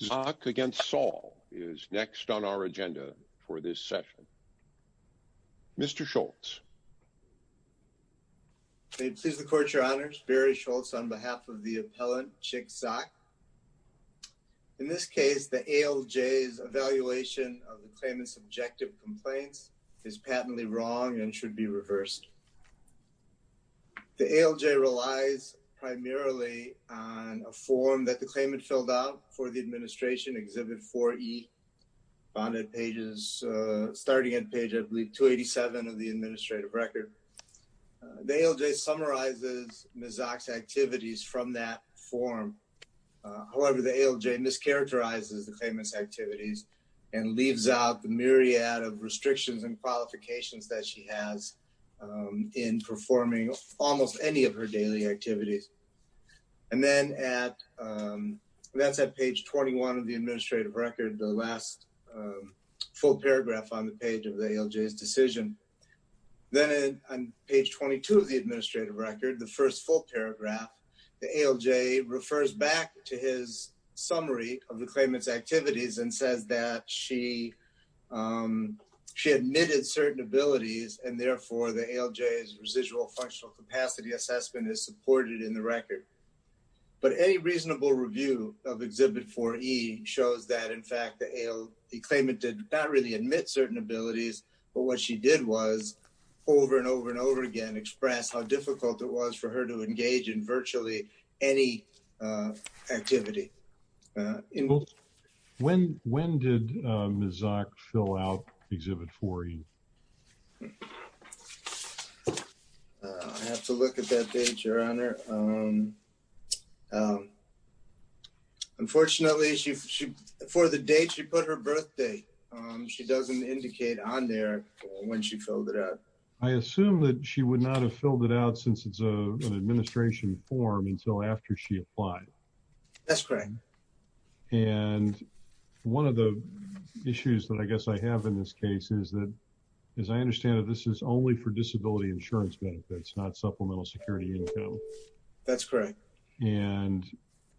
Zoch v. Saul is next on our agenda for this session. Mr. Schultz. May it please the Court, Your Honors, Barry Schultz on behalf of the appellant Chick Zoch. In this case, the ALJ's evaluation of the claimant's objective complaints is patently wrong and should be reversed. The ALJ relies primarily on a form that the claimant filled out for the administration, Exhibit 4E, Bonded Pages, starting at page, I believe, 287 of the administrative record. The ALJ summarizes Ms. Zoch's activities from that form. However, the ALJ mischaracterizes the claimant's activities and leaves out the myriad of restrictions and qualifications that she has in performing almost any of her daily activities. And then at, that's at page 21 of the administrative record, the last full paragraph on the page of the ALJ's decision. Then on page 22 of the administrative record, the first full paragraph, the ALJ refers back to his summary of the claimant's activities and says that she admitted certain abilities and therefore the ALJ's residual functional capacity assessment is supported in the record. But any reasonable review of Exhibit 4E shows that in fact, the claimant did not really admit certain abilities, but what she did was over and over and over again, express how difficult it was for her to engage in virtually any activity. When did Ms. Zoch fill out Exhibit 4E? I have to look at that page, Your Honor. Unfortunately, for the date she put her birthday, she doesn't indicate on there when she filled it out. I assume that she would not have filled it out since it's an administration form until after she applied. That's correct. And one of the issues that I guess I have in this case is that, as I understand it, this is only for disability insurance benefits, not supplemental security income. That's correct. And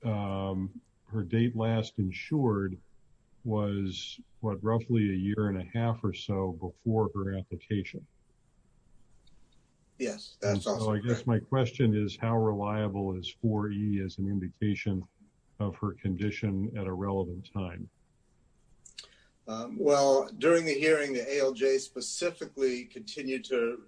her date last insured was, what, roughly a year and a half or so before her application. Yes, that's also correct. So I guess my question is, how reliable is 4E as an indication of her condition at a relevant time? Well, during the hearing, the ALJ specifically continued to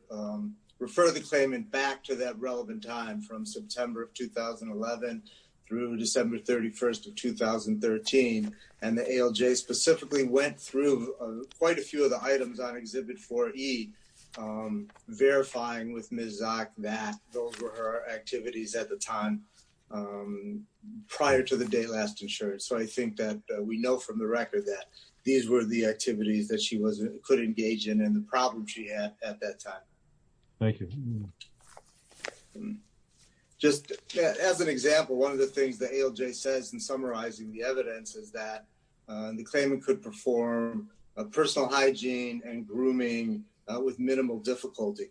refer the claimant back to that date of 2011 through December 31st of 2013, and the ALJ specifically went through quite a few of the items on Exhibit 4E, verifying with Ms. Zoch that those were her activities at the time prior to the date last insured. So I think that we know from the record that these were the activities that she could engage in and the problems she had at that time. Thank you. Just as an example, one of the things the ALJ says in summarizing the evidence is that the claimant could perform a personal hygiene and grooming with minimal difficulty.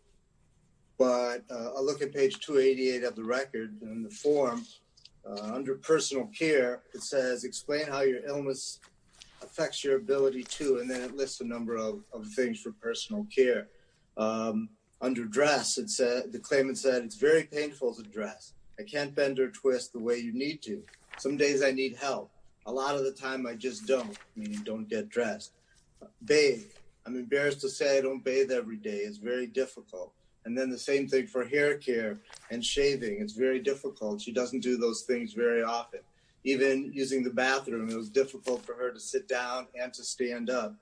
But I'll look at page 288 of the record in the form. Under personal care, it says, explain how your illness affects your ability to, and then it lists a number of things for personal care. Under dress, the claimant said, it's very painful to dress. I can't bend or twist the way you need to. Some days I need help. A lot of the time I just don't, meaning don't get dressed. Bathe. I'm embarrassed to say I don't bathe every day. It's very difficult. And then the same thing for hair care and shaving. It's very difficult. She doesn't do those things very often. Even using the bathroom, it was difficult for her to sit down and to stand up.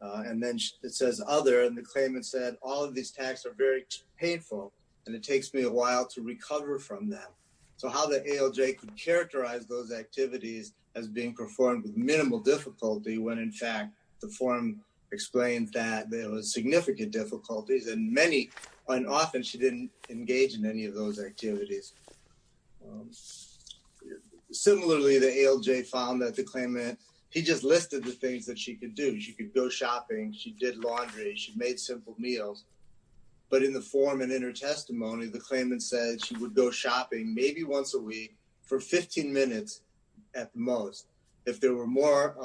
And then it says other, and the claimant said, all of these tags are very painful and it takes me a while to recover from them. So how the ALJ could characterize those activities as being performed with minimal difficulty when in fact, the form explains that there was significant difficulties and many, and often she didn't engage in any of those activities. Similarly, the ALJ found that the claimant, he just listed the things that she could do. She could go shopping. She did laundry. She made simple meals. But in the form and in her testimony, the claimant said she would go shopping maybe once a week for 15 minutes at most. If there were more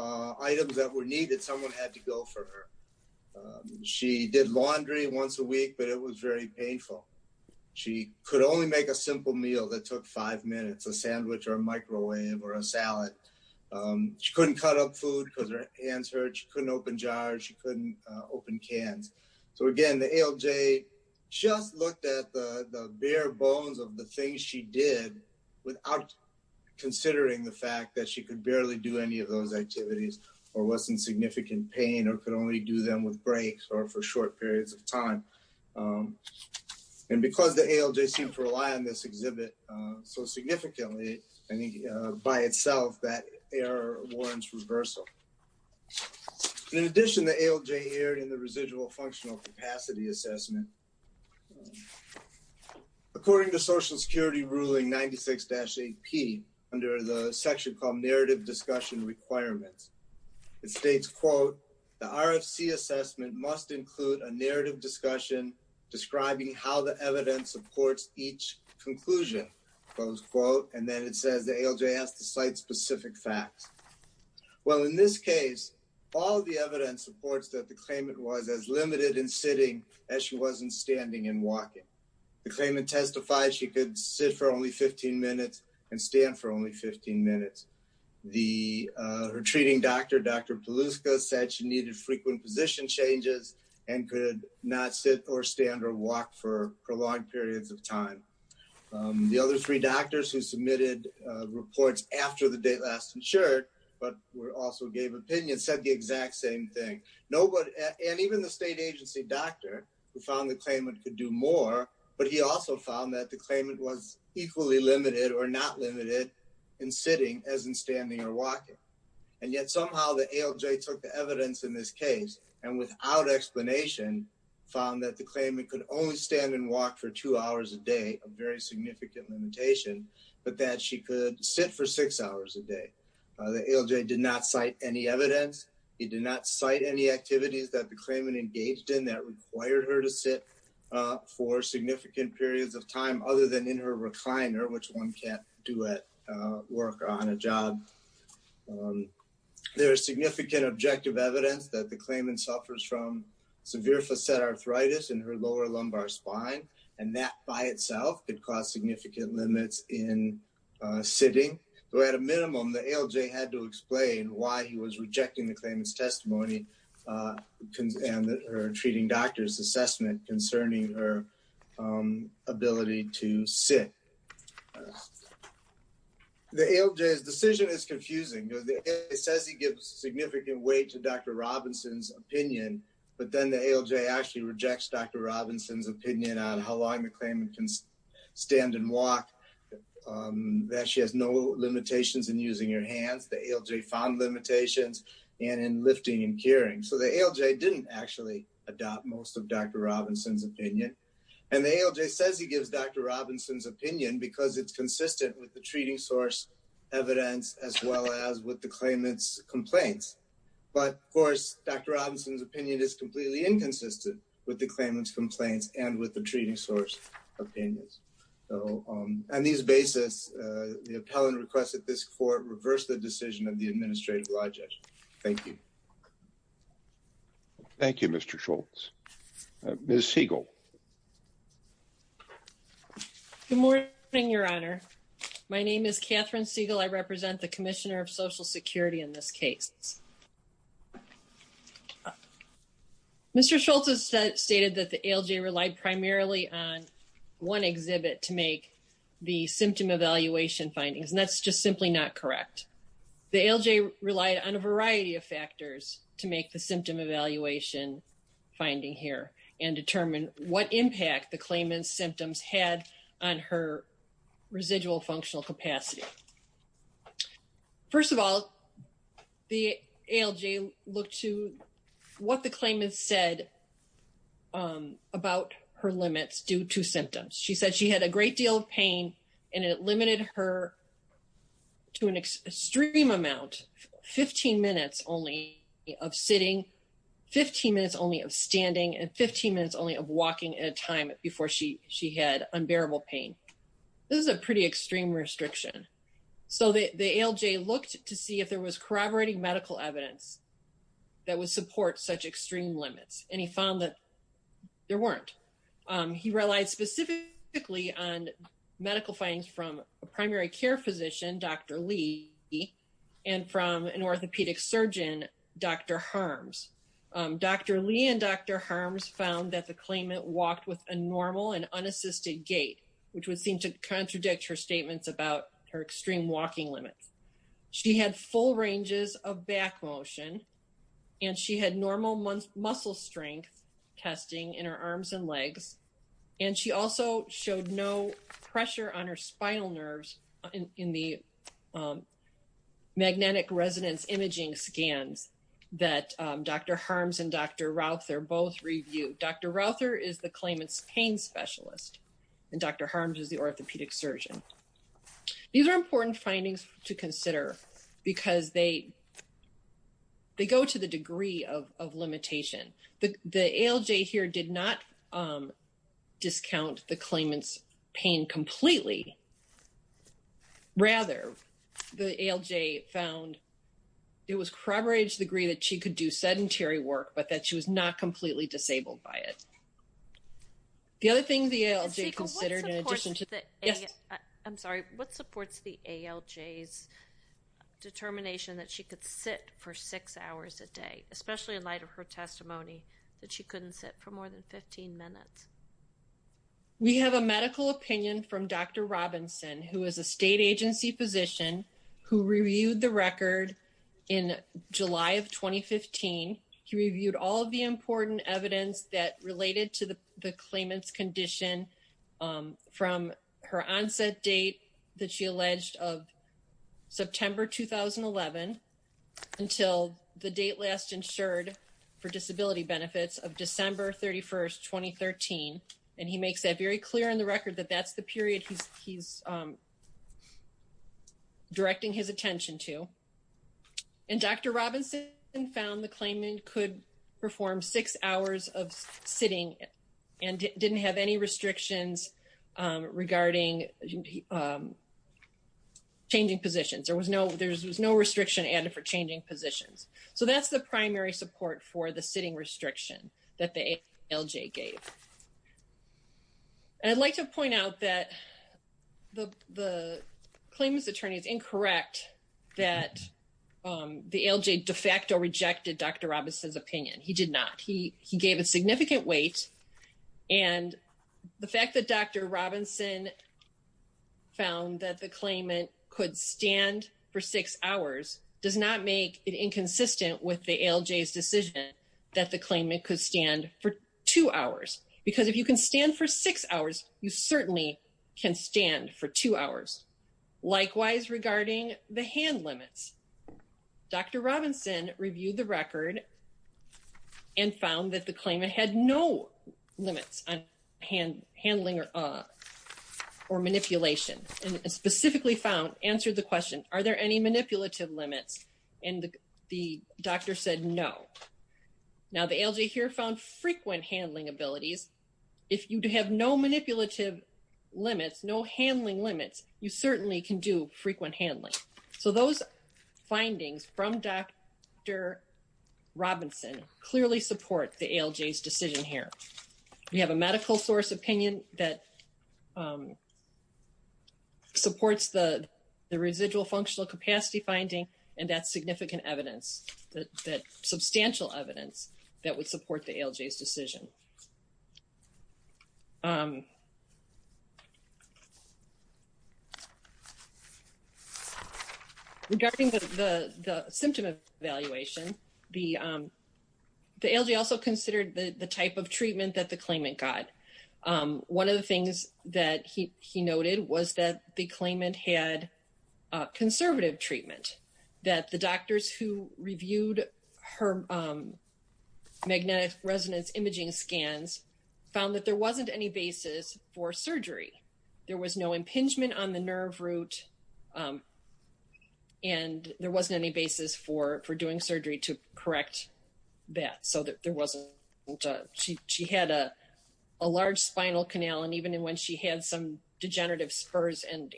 items that were needed, someone had to go for her. She did laundry once a week, but it was very painful. She could only make a simple meal that took five minutes, a sandwich or a microwave or a salad. She couldn't cut up food because her hands hurt. She couldn't open jars. She couldn't open cans. So again, the ALJ just looked at the bare bones of the things she did without considering the fact that she could barely do any of those activities or was in significant pain or could only do them with breaks or for short periods of time. And because the ALJ seemed to rely on this exhibit so significantly, I think by itself that error warrants reversal. In addition, the ALJ erred in the residual functional capacity assessment. According to Social Security Ruling 96-8P, under the section called Narrative Discussion Requirements, it states, quote, the RFC assessment must include a narrative discussion describing how the evidence supports each conclusion, close quote. And then it says the ALJ has to cite specific facts. Well, in this case, all the evidence supports that the claimant was as limited in sitting as she was in standing and walking. The claimant testified she could sit for only 15 minutes and stand for only 15 minutes. Her treating doctor, Dr. Peluska, said she needed frequent position changes and could not sit or stand or walk for prolonged periods of time. The other three doctors who submitted reports after the date last insured, but also gave opinions, said the exact same thing. And even the state agency doctor who found the claimant could do more, but he also found that the claimant was equally limited or not limited in sitting as in standing or walking. And yet somehow the ALJ took the evidence in this case and without explanation found that the claimant could only stand and walk for two hours a day, a very significant limitation, but that she could sit for six hours a day. The ALJ did not cite any evidence. It did not cite any activities that the claimant engaged in that required her to sit for significant periods of time other than in her recliner, which one can't do at work or on a job. There is significant objective evidence that the claimant suffers from severe facet arthritis in her lower lumbar spine, and that by itself could cause significant limits in sitting. Though at a minimum, the ALJ had to explain why he was rejecting the claimant's testimony and her treating doctor's assessment concerning her ability to sit. The ALJ's decision is confusing. It says he gives significant weight to Dr. Robinson's opinion, but then the ALJ actually rejects Dr. Robinson's opinion on how long the claimant can stand and walk, that she has no limitations in using her hands. The ALJ found limitations in lifting and carrying. So the ALJ didn't actually adopt most of Dr. Robinson's opinion. And the ALJ says he gives Dr. Robinson's opinion because it's consistent with the treating source evidence, as well as with the claimant's complaints. But of course, Dr. Robinson's opinion is completely inconsistent with the claimant's complaints and with the treating source opinions. On these basis, the appellant requests that this court reverse the decision of the administrative lie judge. Thank you. Thank you, Mr. Schultz. Ms. Siegel. Good morning, Your Honor. My name is Catherine Siegel. I represent the Commissioner of Social Security in this case. Mr. Schultz has stated that the ALJ relied primarily on one exhibit to make the symptom evaluation findings, and that's just simply not correct. The ALJ relied on a variety of factors to make the symptom evaluation finding here and determine what impact the claimant's symptoms had on her residual functional capacity. First of all, the ALJ looked to what the claimant said about her limits due to symptoms. She said she had a great deal of pain, and it limited her to an extreme amount, 15 minutes only of sitting, 15 minutes only of standing, and 15 minutes only of walking at a time before she had unbearable pain. This is a pretty extreme restriction. So the ALJ looked to see if there was corroborating medical evidence that would support such extreme limits, and he found that there weren't. He relied specifically on medical findings from a primary care physician, Dr. Lee, and from an orthopedic surgeon, Dr. Harms. Dr. Lee and Dr. Harms found that the claimant walked with a normal and unassisted gait, which would seem to contradict her statements about her extreme walking limits. She had full ranges of back motion, and she had normal muscle strength testing in her legs, and she also showed no pressure on her spinal nerves in the magnetic resonance imaging scans that Dr. Harms and Dr. Rauther both reviewed. Dr. Rauther is the claimant's pain specialist, and Dr. Harms is the orthopedic surgeon. These are important findings to consider because they go to the degree of limitation. The ALJ here did not discount the claimant's pain completely. Rather, the ALJ found it was corroborated to the degree that she could do sedentary work but that she was not completely disabled by it. The other thing the ALJ considered in addition to the… Yes? I'm sorry. What supports the ALJ's determination that she could sit for six hours a day, especially in light of her testimony that she couldn't sit for more than 15 minutes? We have a medical opinion from Dr. Robinson, who is a state agency physician who reviewed the record in July of 2015. He reviewed all of the important evidence that related to the claimant's condition from her onset date that she alleged of September 2011 until the date last insured for disability benefits of December 31st, 2013. He makes that very clear in the record that that's the period he's directing his attention to. Dr. Robinson found the claimant could perform six hours of sitting and didn't have any restrictions regarding changing positions. There was no restriction added for changing positions. That's the primary support for the sitting restriction that the ALJ gave. I'd like to point out that the claimant's attorney is incorrect that the ALJ de facto rejected Dr. Robinson's opinion. He did not. He gave a significant weight. The fact that Dr. Robinson found that the claimant could stand for six hours does not make it inconsistent with the ALJ's decision that the claimant could stand for two hours. Because if you can stand for six hours, you certainly can stand for two hours. Likewise, regarding the hand limits, Dr. Robinson reviewed the record and found that the claimant had no limits on handling or manipulation and specifically found, answered the question, are there any manipulative limits? The doctor said no. Now, the ALJ here found frequent handling abilities. If you have no manipulative limits, no handling limits, you certainly can do frequent handling. Those findings from Dr. Robinson clearly support the ALJ's decision here. We have a medical source opinion that supports the residual functional capacity finding and that's significant evidence, that substantial evidence that would support the ALJ's decision. Regarding the symptom evaluation, the ALJ also considered the type of treatment that the claimant got. One of the things that he noted was that the claimant had conservative treatment, that the doctors who reviewed her magnetic resonance imaging scans found that there wasn't any basis for surgery. There was no impingement on the nerve root and there wasn't any basis for doing surgery to correct that. So, there wasn't, she had a large spinal canal and even when she had some degenerative spurs and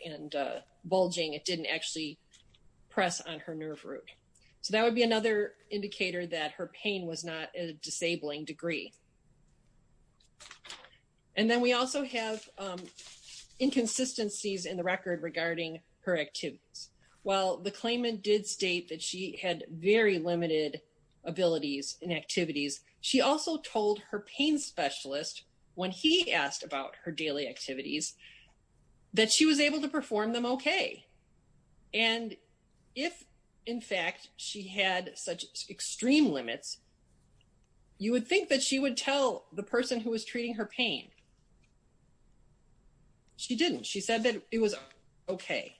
bulging, it didn't actually press on her nerve root. So, that would be another indicator that her pain was not in a disabling degree. And then we also have inconsistencies in the record regarding her activities. While the claimant did state that she had very limited abilities and activities, she also told her pain specialist when he asked about her daily activities that she was able to perform them okay. And if, in fact, she had such extreme limits, you would think that she would tell the person who was treating her pain. She didn't. She said that it was okay.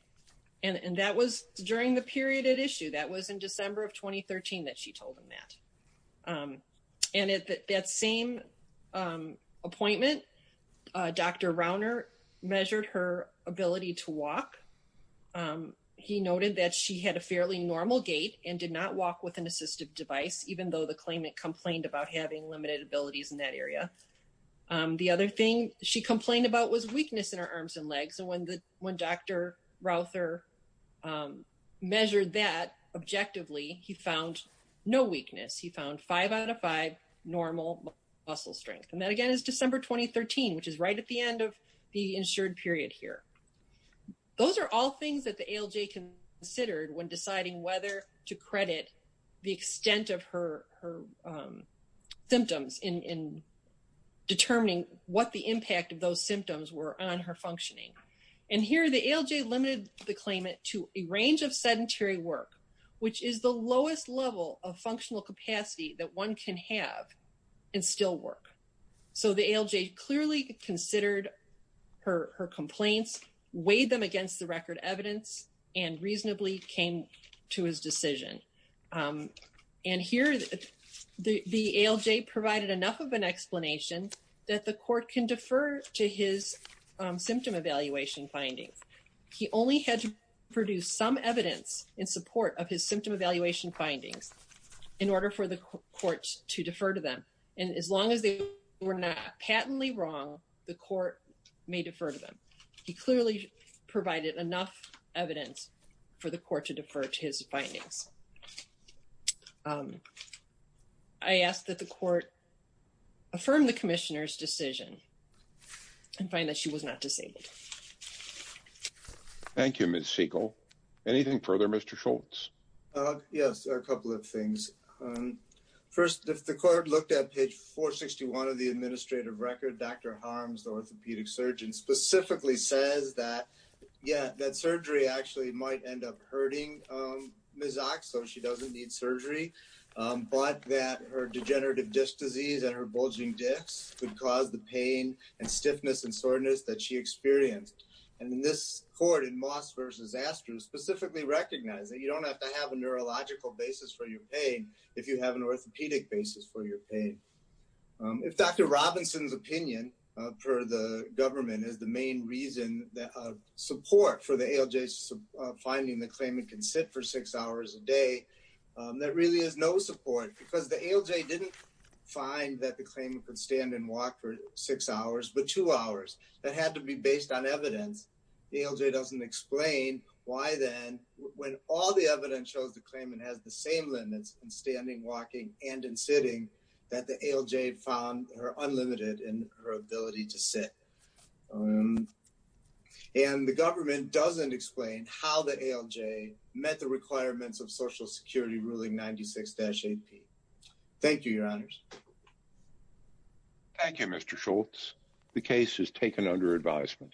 And that was during the period at issue. That was in December of 2013 that she told him that. And at that same appointment, Dr. Rauner measured her ability to walk. He noted that she had a fairly normal gait and did not walk with an assistive device even though the claimant complained about having limited abilities in that area. The other thing she complained about was weakness in her arms and legs. And when Dr. Rauner measured that objectively, he found no weakness. He found five out of five normal muscle strength. And that, again, is December 2013, which is right at the end of the insured period here. Those are all things that the ALJ considered when deciding whether to credit the extent of her symptoms in determining what the impact of those symptoms were on her functioning. And here, the ALJ limited the claimant to a range of sedentary work, which is the lowest level of functional capacity that one can have and still work. So the ALJ clearly considered her complaints, weighed them against the record evidence, and reasonably came to his decision. And here, the ALJ provided enough of an explanation that the court can defer to his symptom evaluation findings. He only had to produce some evidence in support of his symptom evaluation findings in order for the court to defer to them. And as long as they were not patently wrong, the court may defer to them. He clearly provided enough evidence for the court to defer to his findings. I ask that the court affirm the commissioner's decision and find that she was not disabled. Thank you, Ms. Siegel. Anything further, Mr. Schultz? Yes, a couple of things. First, if the court looked at page 461 of the administrative record, Dr. Harms, the orthopedic surgeon, specifically says that, yeah, that surgery actually might end up hurting Ms. Oxlow, she doesn't need surgery, but that her degenerative disc disease and her bulging discs could cause the pain and stiffness and soreness that she experienced. And in this court, in Moss v. Astros, specifically recognizes that you don't have to have a neurological basis for your pain if you have an orthopedic basis for your pain. If Dr. Robinson's opinion, per the government, is the main reason that support for the ALJ's finding the claimant can sit for six hours a day, that really is no support because the ALJ didn't find that the claimant could stand and walk for six hours, but two hours. That had to be based on evidence. The ALJ doesn't explain why then, when all the evidence shows the claimant has the same limits in standing, walking, and in sitting, that the ALJ found her unlimited in her ability to sit. And the government doesn't explain how the ALJ met the requirements of Social Security Ruling 96-8P. Thank you, Your Honors. Thank you, Mr. Schultz. The case is taken under advisement.